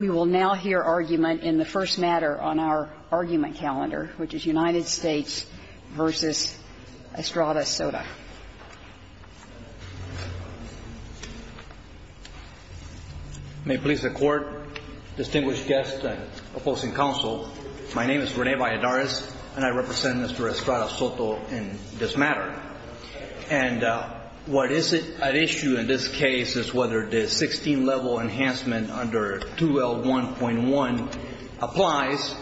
We will now hear argument in the first matter on our argument calendar, which is United States v. Estrada-Soto. May it please the Court, distinguished guests and opposing counsel, my name is Rene Valladares and I represent Mr. Estrada-Soto in this matter. And what is at issue in this case is whether the 16-level enhancement under 2L1.1 applies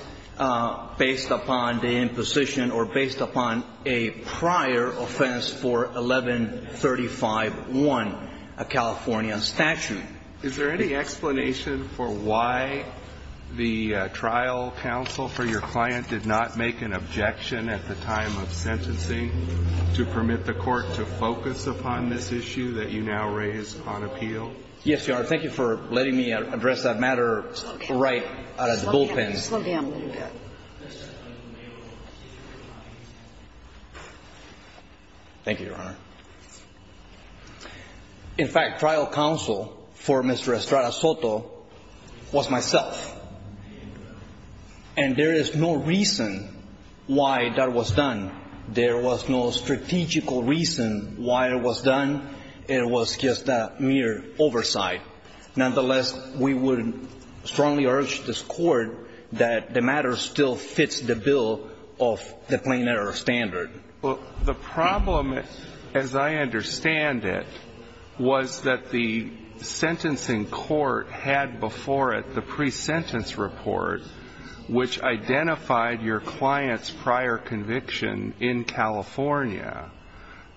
based upon the imposition or based upon a prior offense for 1135.1, a California statute. Is there any explanation for why the trial counsel for your client did not make an objection at the time of sentencing to permit the Court to focus upon this issue that you now raise on appeal? Yes, Your Honor. Thank you for letting me address that matter right out of the bullpen. Slow down a little bit. Thank you, Your Honor. In fact, trial counsel for Mr. Estrada-Soto was myself, and there is no reason why that was done. There was no strategical reason why it was done. It was just a mere oversight. Nonetheless, we would strongly urge this Court that the matter still fits the bill of the plain error standard. The problem, as I understand it, was that the sentencing court had before it the pre-sentence report, which identified your client's prior conviction in California.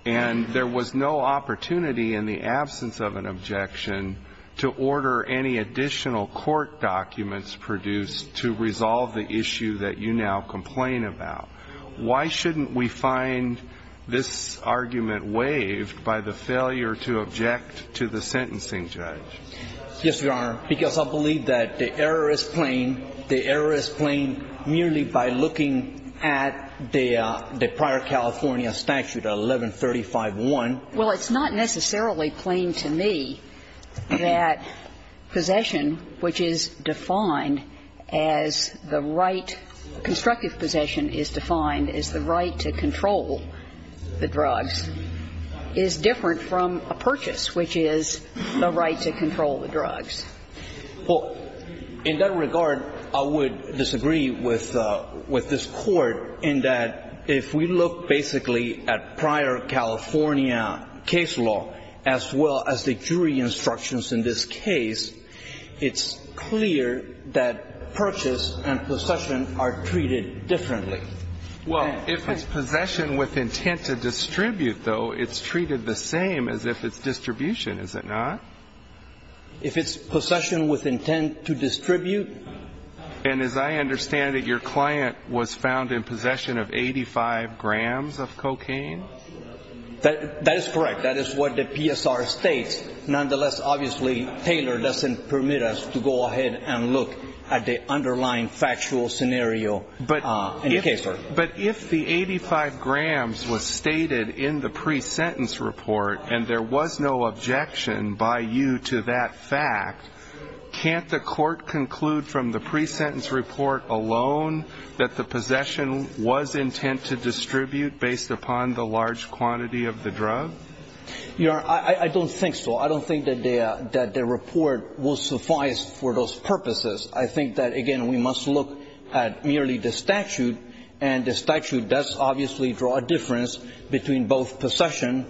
And there was no opportunity in the absence of an objection to order any additional court documents produced to resolve the issue that you now complain about. Why shouldn't we find this argument waived by the failure to object to the sentencing judge? Yes, Your Honor, because I believe that the error is plain. The error is plain merely by looking at the prior California statute, 1135.1. Well, it's not necessarily plain to me that possession, which is defined as the right to the right to control the drugs, is different from a purchase, which is the right to control the drugs. Well, in that regard, I would disagree with this Court in that if we look basically at prior California case law, as well as the jury instructions in this case, it's clear that purchase and possession are treated differently. Well, if it's possession with intent to distribute, though, it's treated the same as if it's distribution, is it not? If it's possession with intent to distribute. And as I understand it, your client was found in possession of 85 grams of cocaine? That is correct. That is what the PSR states. Nonetheless, obviously, Taylor doesn't permit us to go ahead and look at the underlying factual scenario in the case. But if the 85 grams was stated in the pre-sentence report and there was no objection by you to that fact, can't the Court conclude from the pre-sentence report alone that the possession was intent to distribute based upon the large quantity of the drug? Your Honor, I don't think so. I don't think that the report will suffice for those purposes. I think that, again, we must look at merely the statute, and the statute does obviously draw a difference between both possession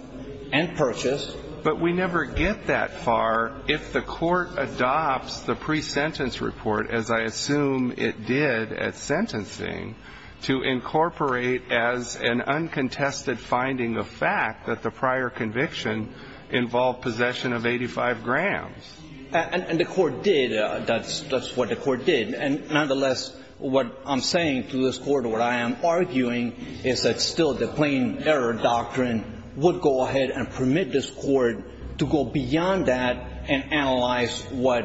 and purchase. But we never get that far if the Court adopts the pre-sentence report, as I assume it did at sentencing, to incorporate as an uncontested finding of fact that the prior conviction involved possession of 85 grams. And the Court did. That's what the Court did. And nonetheless, what I'm saying to this Court, what I am arguing, is that still the plain error doctrine would go ahead and permit this Court to go beyond that and analyze what,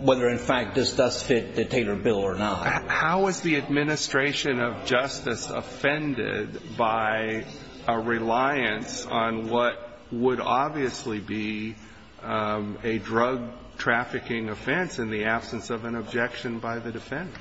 whether in fact this does fit the Taylor bill or not. How is the administration of justice offended by a reliance on what would obviously be a drug trafficking offense in the absence of an objection by the defendant?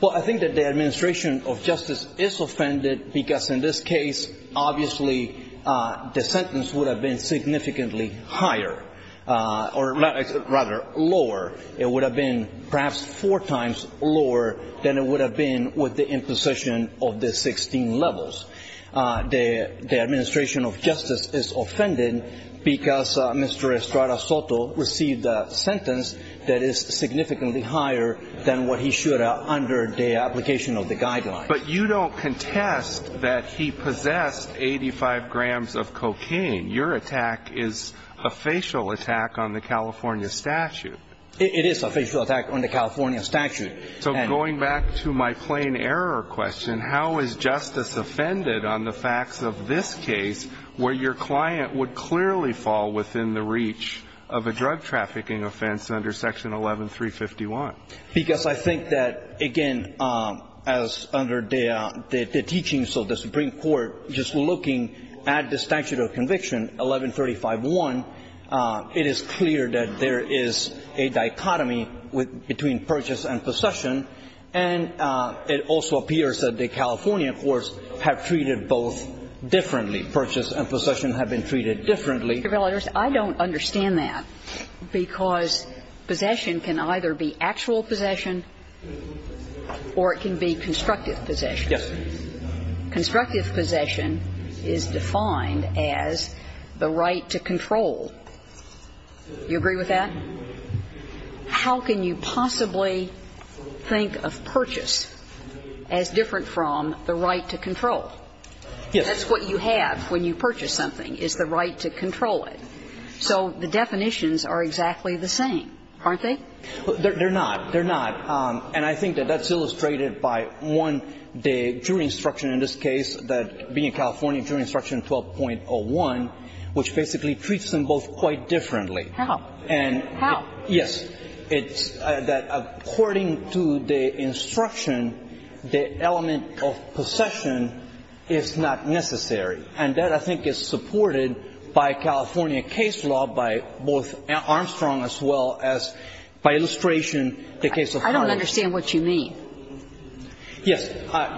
Well, I think that the administration of justice is offended because in this case, obviously the sentence would have been significantly higher, or rather lower. It would have been perhaps four times lower than it would have been with the imposition of the 16 levels. The administration of justice is offended because Mr. Estrada Soto received a sentence that is significantly higher than what he should have under the application of the guidelines. But you don't contest that he possessed 85 grams of cocaine. Your attack is a facial attack on the California statute. It is a facial attack on the California statute. So going back to my plain error question, how is justice offended on the facts of this case, where your client would clearly fall within the reach of a drug trafficking offense under Section 11351? Because I think that, again, as under the teachings of the Supreme Court, just looking at the statute of conviction, 11351, it is clear that there is a dichotomy between purchase and possession. And it also appears that the California courts have treated both differently. Purchase and possession have been treated differently. Sotomayor, I don't understand that, because possession can either be actual possession or it can be constructive possession. Yes. Constructive possession is defined as the right to control. Do you agree with that? How can you possibly think of purchase as different from the right to control? Yes. That's what you have when you purchase something, is the right to control it. So the definitions are exactly the same, aren't they? They're not. They're not. And I think that that's illustrated by one, the jury instruction in this case, that being in California, jury instruction 12.01, which basically treats them both quite differently. How? How? Yes. It's that according to the instruction, the element of possession is not necessary. And that, I think, is supported by California case law, by both Armstrong as well as by illustration, the case of Harley. I don't understand what you mean. Yes.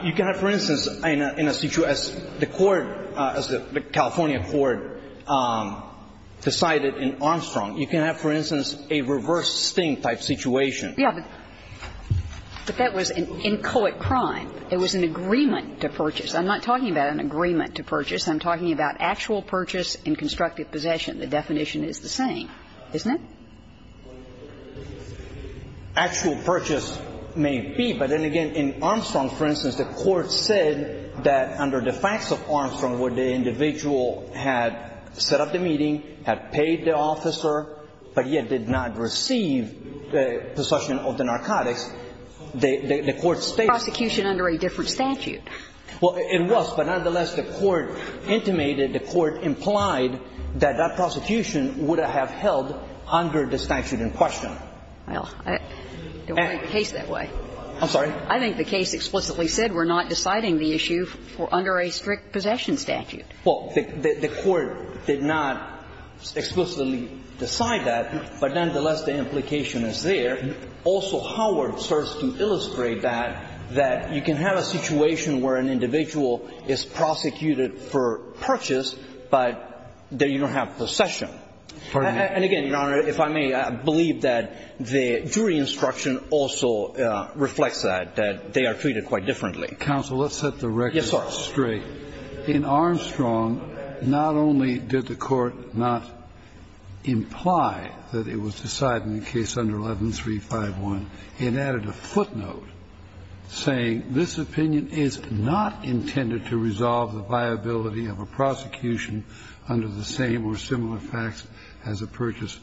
You can have, for instance, in a situation as the court, as the California court decided in Armstrong, you can have, for instance, a reverse sting type situation. Yes. But that was an inchoate crime. It was an agreement to purchase. I'm not talking about an agreement to purchase. I'm talking about actual purchase in constructive possession. The definition is the same, isn't it? Actual purchase may be, but then again, in Armstrong, for instance, the court said that under the facts of Armstrong, where the individual had set up the meeting, had paid the officer, but yet did not receive possession of the narcotics, the court stated that. Prosecution under a different statute. Well, it was, but nonetheless, the court intimated, the court implied that that prosecution would have held under the statute in question. Well, I don't think the case that way. I'm sorry? I think the case explicitly said we're not deciding the issue for under a strict possession statute. Well, the court did not explicitly decide that, but nonetheless, the implication is there. Also, Howard starts to illustrate that, that you can have a situation where an individual is prosecuted for purchase, but then you don't have possession. And again, Your Honor, if I may, I believe that the jury instruction also reflects that they are treated quite differently. Counsel, let's set the record straight. Yes, Your Honor. In Armstrong, not only did the court not imply that it was decided in the case under 11351, it added a footnote saying this opinion is not intended to resolve the viability of a prosecution under the same or similar facts as a purchase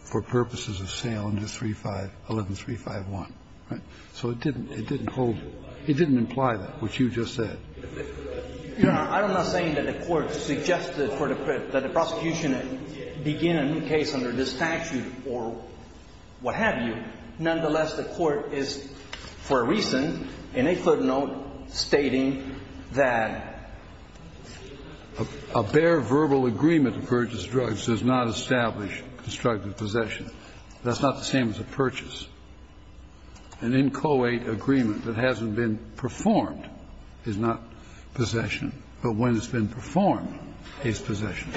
for purposes of sale under 35 11351, right? So it didn't hold you. It didn't imply that, which you just said. Your Honor, I'm not saying that the court suggested for the prosecution to begin a new case under this statute or what have you. Nonetheless, the court is, for a reason, in a footnote stating that a bare verbal agreement to purchase drugs does not establish constructive possession. That's not the same as a purchase. An inchoate agreement that hasn't been performed is not possession. But when it's been performed, it's possession.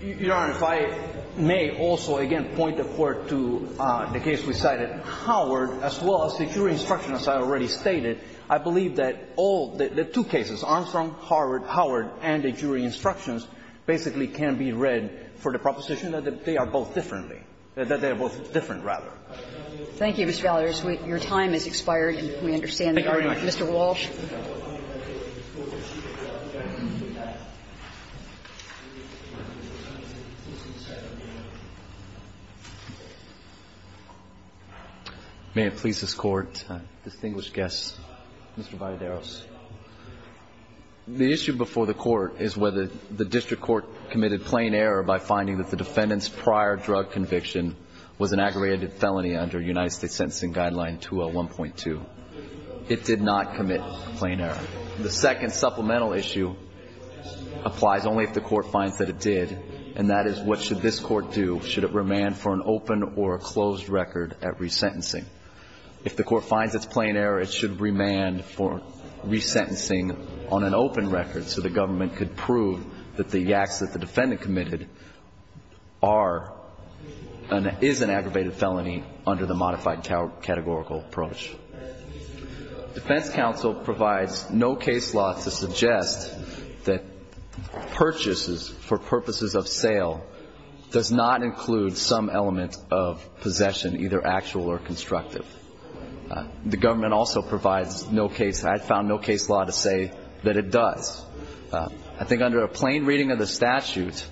Your Honor, if I may also again point the Court to the case we cited, Howard, as well as the jury instruction, as I already stated, I believe that all the two cases, Armstrong, Howard, and the jury instructions, basically can be read for the Thank you, Mr. Ballard. Your time has expired. We understand that. Mr. Walsh. May it please this Court, distinguished guests, Mr. Valladares. The issue before the Court is whether the district court committed plain error by finding that the defendant's prior drug conviction was an aggravated felony under United States Sentencing Guideline 201.2. It did not commit plain error. The second supplemental issue applies only if the Court finds that it did, and that is what should this Court do? Should it remand for an open or a closed record at resentencing? If the Court finds it's plain error, it should remand for resentencing on an open record so the government could prove that the acts that the defendant committed are and is an aggravated felony under the modified categorical approach. Defense counsel provides no case law to suggest that purchases for purposes of sale does not include some element of possession, either actual or constructive. The government also provides no case, I found no case law to say that it does. I think under a plain reading of the statute,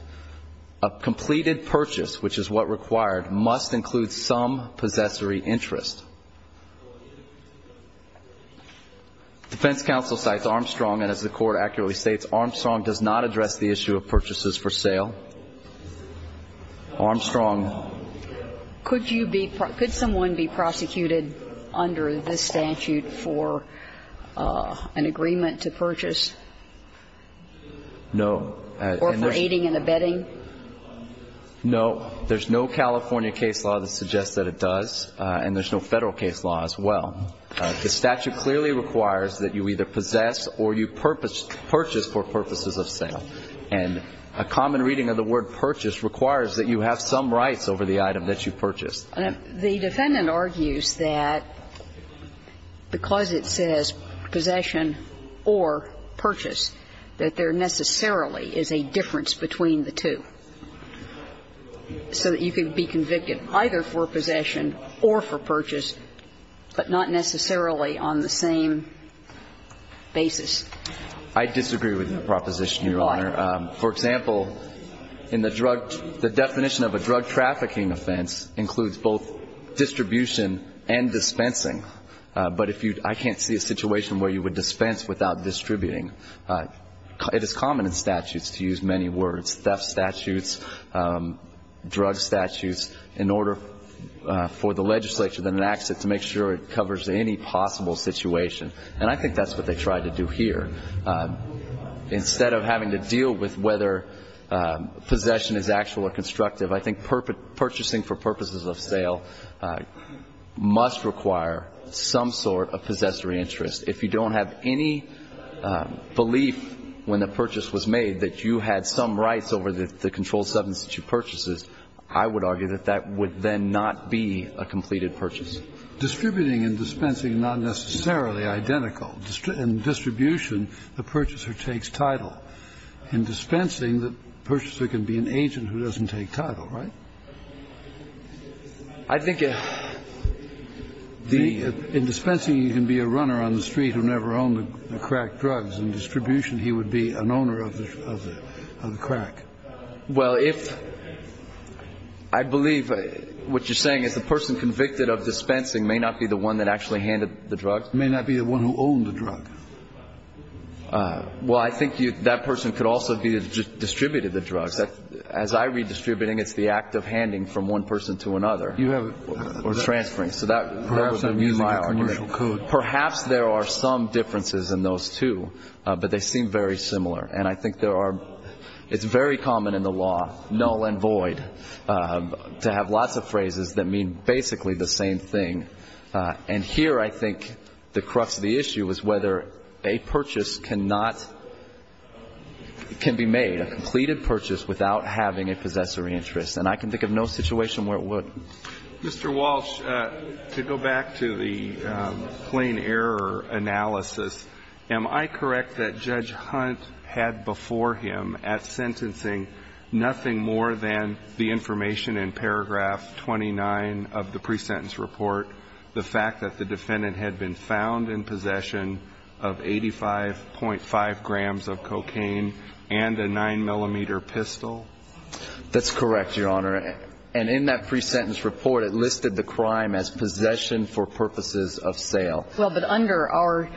a completed purchase, which is what required, must include some possessory interest. Defense counsel cites Armstrong, and as the Court accurately states, Armstrong does not address the issue of purchases for sale. Armstrong. Could you be, could someone be prosecuted under this statute for an agreement to purchase? No. Or for aiding and abetting? No. There's no California case law that suggests that it does, and there's no Federal case law as well. The statute clearly requires that you either possess or you purchase for purposes of sale. And a common reading of the word purchase requires that you have some rights over the item that you purchased. The defendant argues that because it says possession or purchase, that there necessarily is a difference between the two, so that you can be convicted either for possession or for purchase, but not necessarily on the same basis. I disagree with your proposition, Your Honor. Why? For example, in the drug, the definition of a drug trafficking offense includes both distribution and dispensing. But if you, I can't see a situation where you would dispense without distributing. It is common in statutes to use many words, theft statutes, drug statutes, in order for the legislature to enact it to make sure it covers any possible situation. And I think that's what they tried to do here. Instead of having to deal with whether possession is actual or constructive, I think purchasing for purposes of sale must require some sort of possessory interest. If you don't have any belief when the purchase was made that you had some rights over the controlled substance that you purchased, I would argue that that would then not be a completed purchase. Distributing and dispensing are not necessarily identical. In distribution, the purchaser takes title. In dispensing, the purchaser can be an agent who doesn't take title, right? I think the ---- In dispensing, you can be a runner on the street who never owned the crack drugs. In distribution, he would be an owner of the crack. Well, if ---- I believe what you're saying is the person convicted of dispensing may not be the one that actually handed the drugs? May not be the one who owned the drug. Well, I think that person could also be the distributor of the drugs. As I read distributing, it's the act of handing from one person to another. You have a ---- Or transferring. So that would be my argument. Perhaps I'm using a commercial code. Perhaps there are some differences in those two, but they seem very similar. And I think there are ---- It's very common in the law, null and void, to have lots of phrases that mean basically the same thing. And here I think the crux of the issue is whether a purchase cannot ---- can be made, a completed purchase, without having a possessory interest. And I can think of no situation where it would. Mr. Walsh, to go back to the plain error analysis, am I correct that Judge Hunt had before him at sentencing nothing more than the information in paragraph 29 of the pre-sentence report, the fact that the defendant had been found in possession of 85.5 grams of cocaine and a 9-millimeter pistol? That's correct, Your Honor. And in that pre-sentence report, it listed the crime as possession for purposes of sale. Well, but under our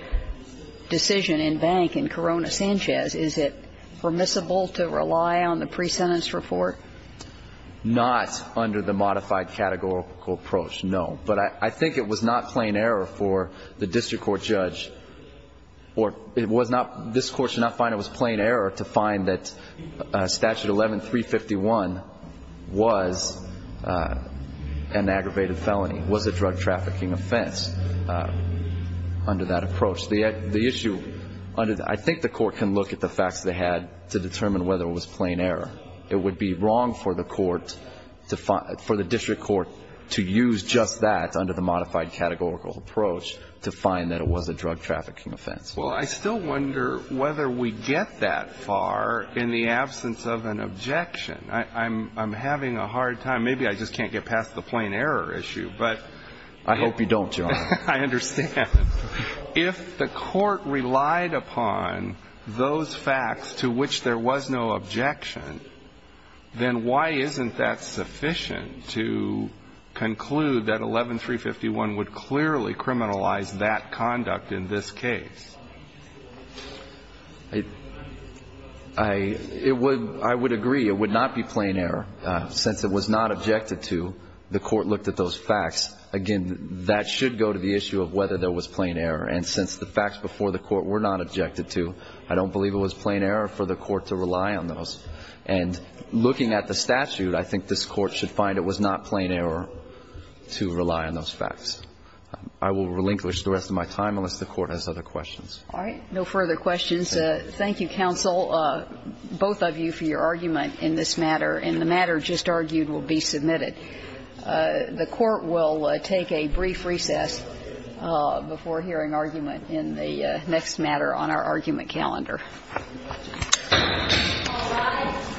decision in Bank and Corona-Sanchez, is it permissible to rely on the pre-sentence report? Not under the modified categorical approach, no. But I think it was not plain error for the district court judge or it was not ---- it was not plain error to find that statute 11-351 was an aggravated felony, was a drug trafficking offense under that approach. The issue under the ---- I think the court can look at the facts they had to determine whether it was plain error. It would be wrong for the court to find ---- for the district court to use just that under the modified categorical approach to find that it was a drug trafficking offense. Well, I still wonder whether we get that far in the absence of an objection. I'm having a hard time. Maybe I just can't get past the plain error issue, but ---- I hope you don't, Your Honor. I understand. If the court relied upon those facts to which there was no objection, then why isn't that sufficient to conclude that 11-351 would clearly criminalize that conduct in this case? I would agree it would not be plain error. Since it was not objected to, the court looked at those facts. Again, that should go to the issue of whether there was plain error. And since the facts before the court were not objected to, I don't believe it was plain error for the court to rely on those. And looking at the statute, I think this court should find it was not plain error to rely on those facts. I will relinquish the rest of my time unless the court has other questions. All right. No further questions. Thank you, counsel, both of you, for your argument in this matter. And the matter just argued will be submitted. The court will take a brief recess before hearing argument in the next matter on our argument calendar. All rise.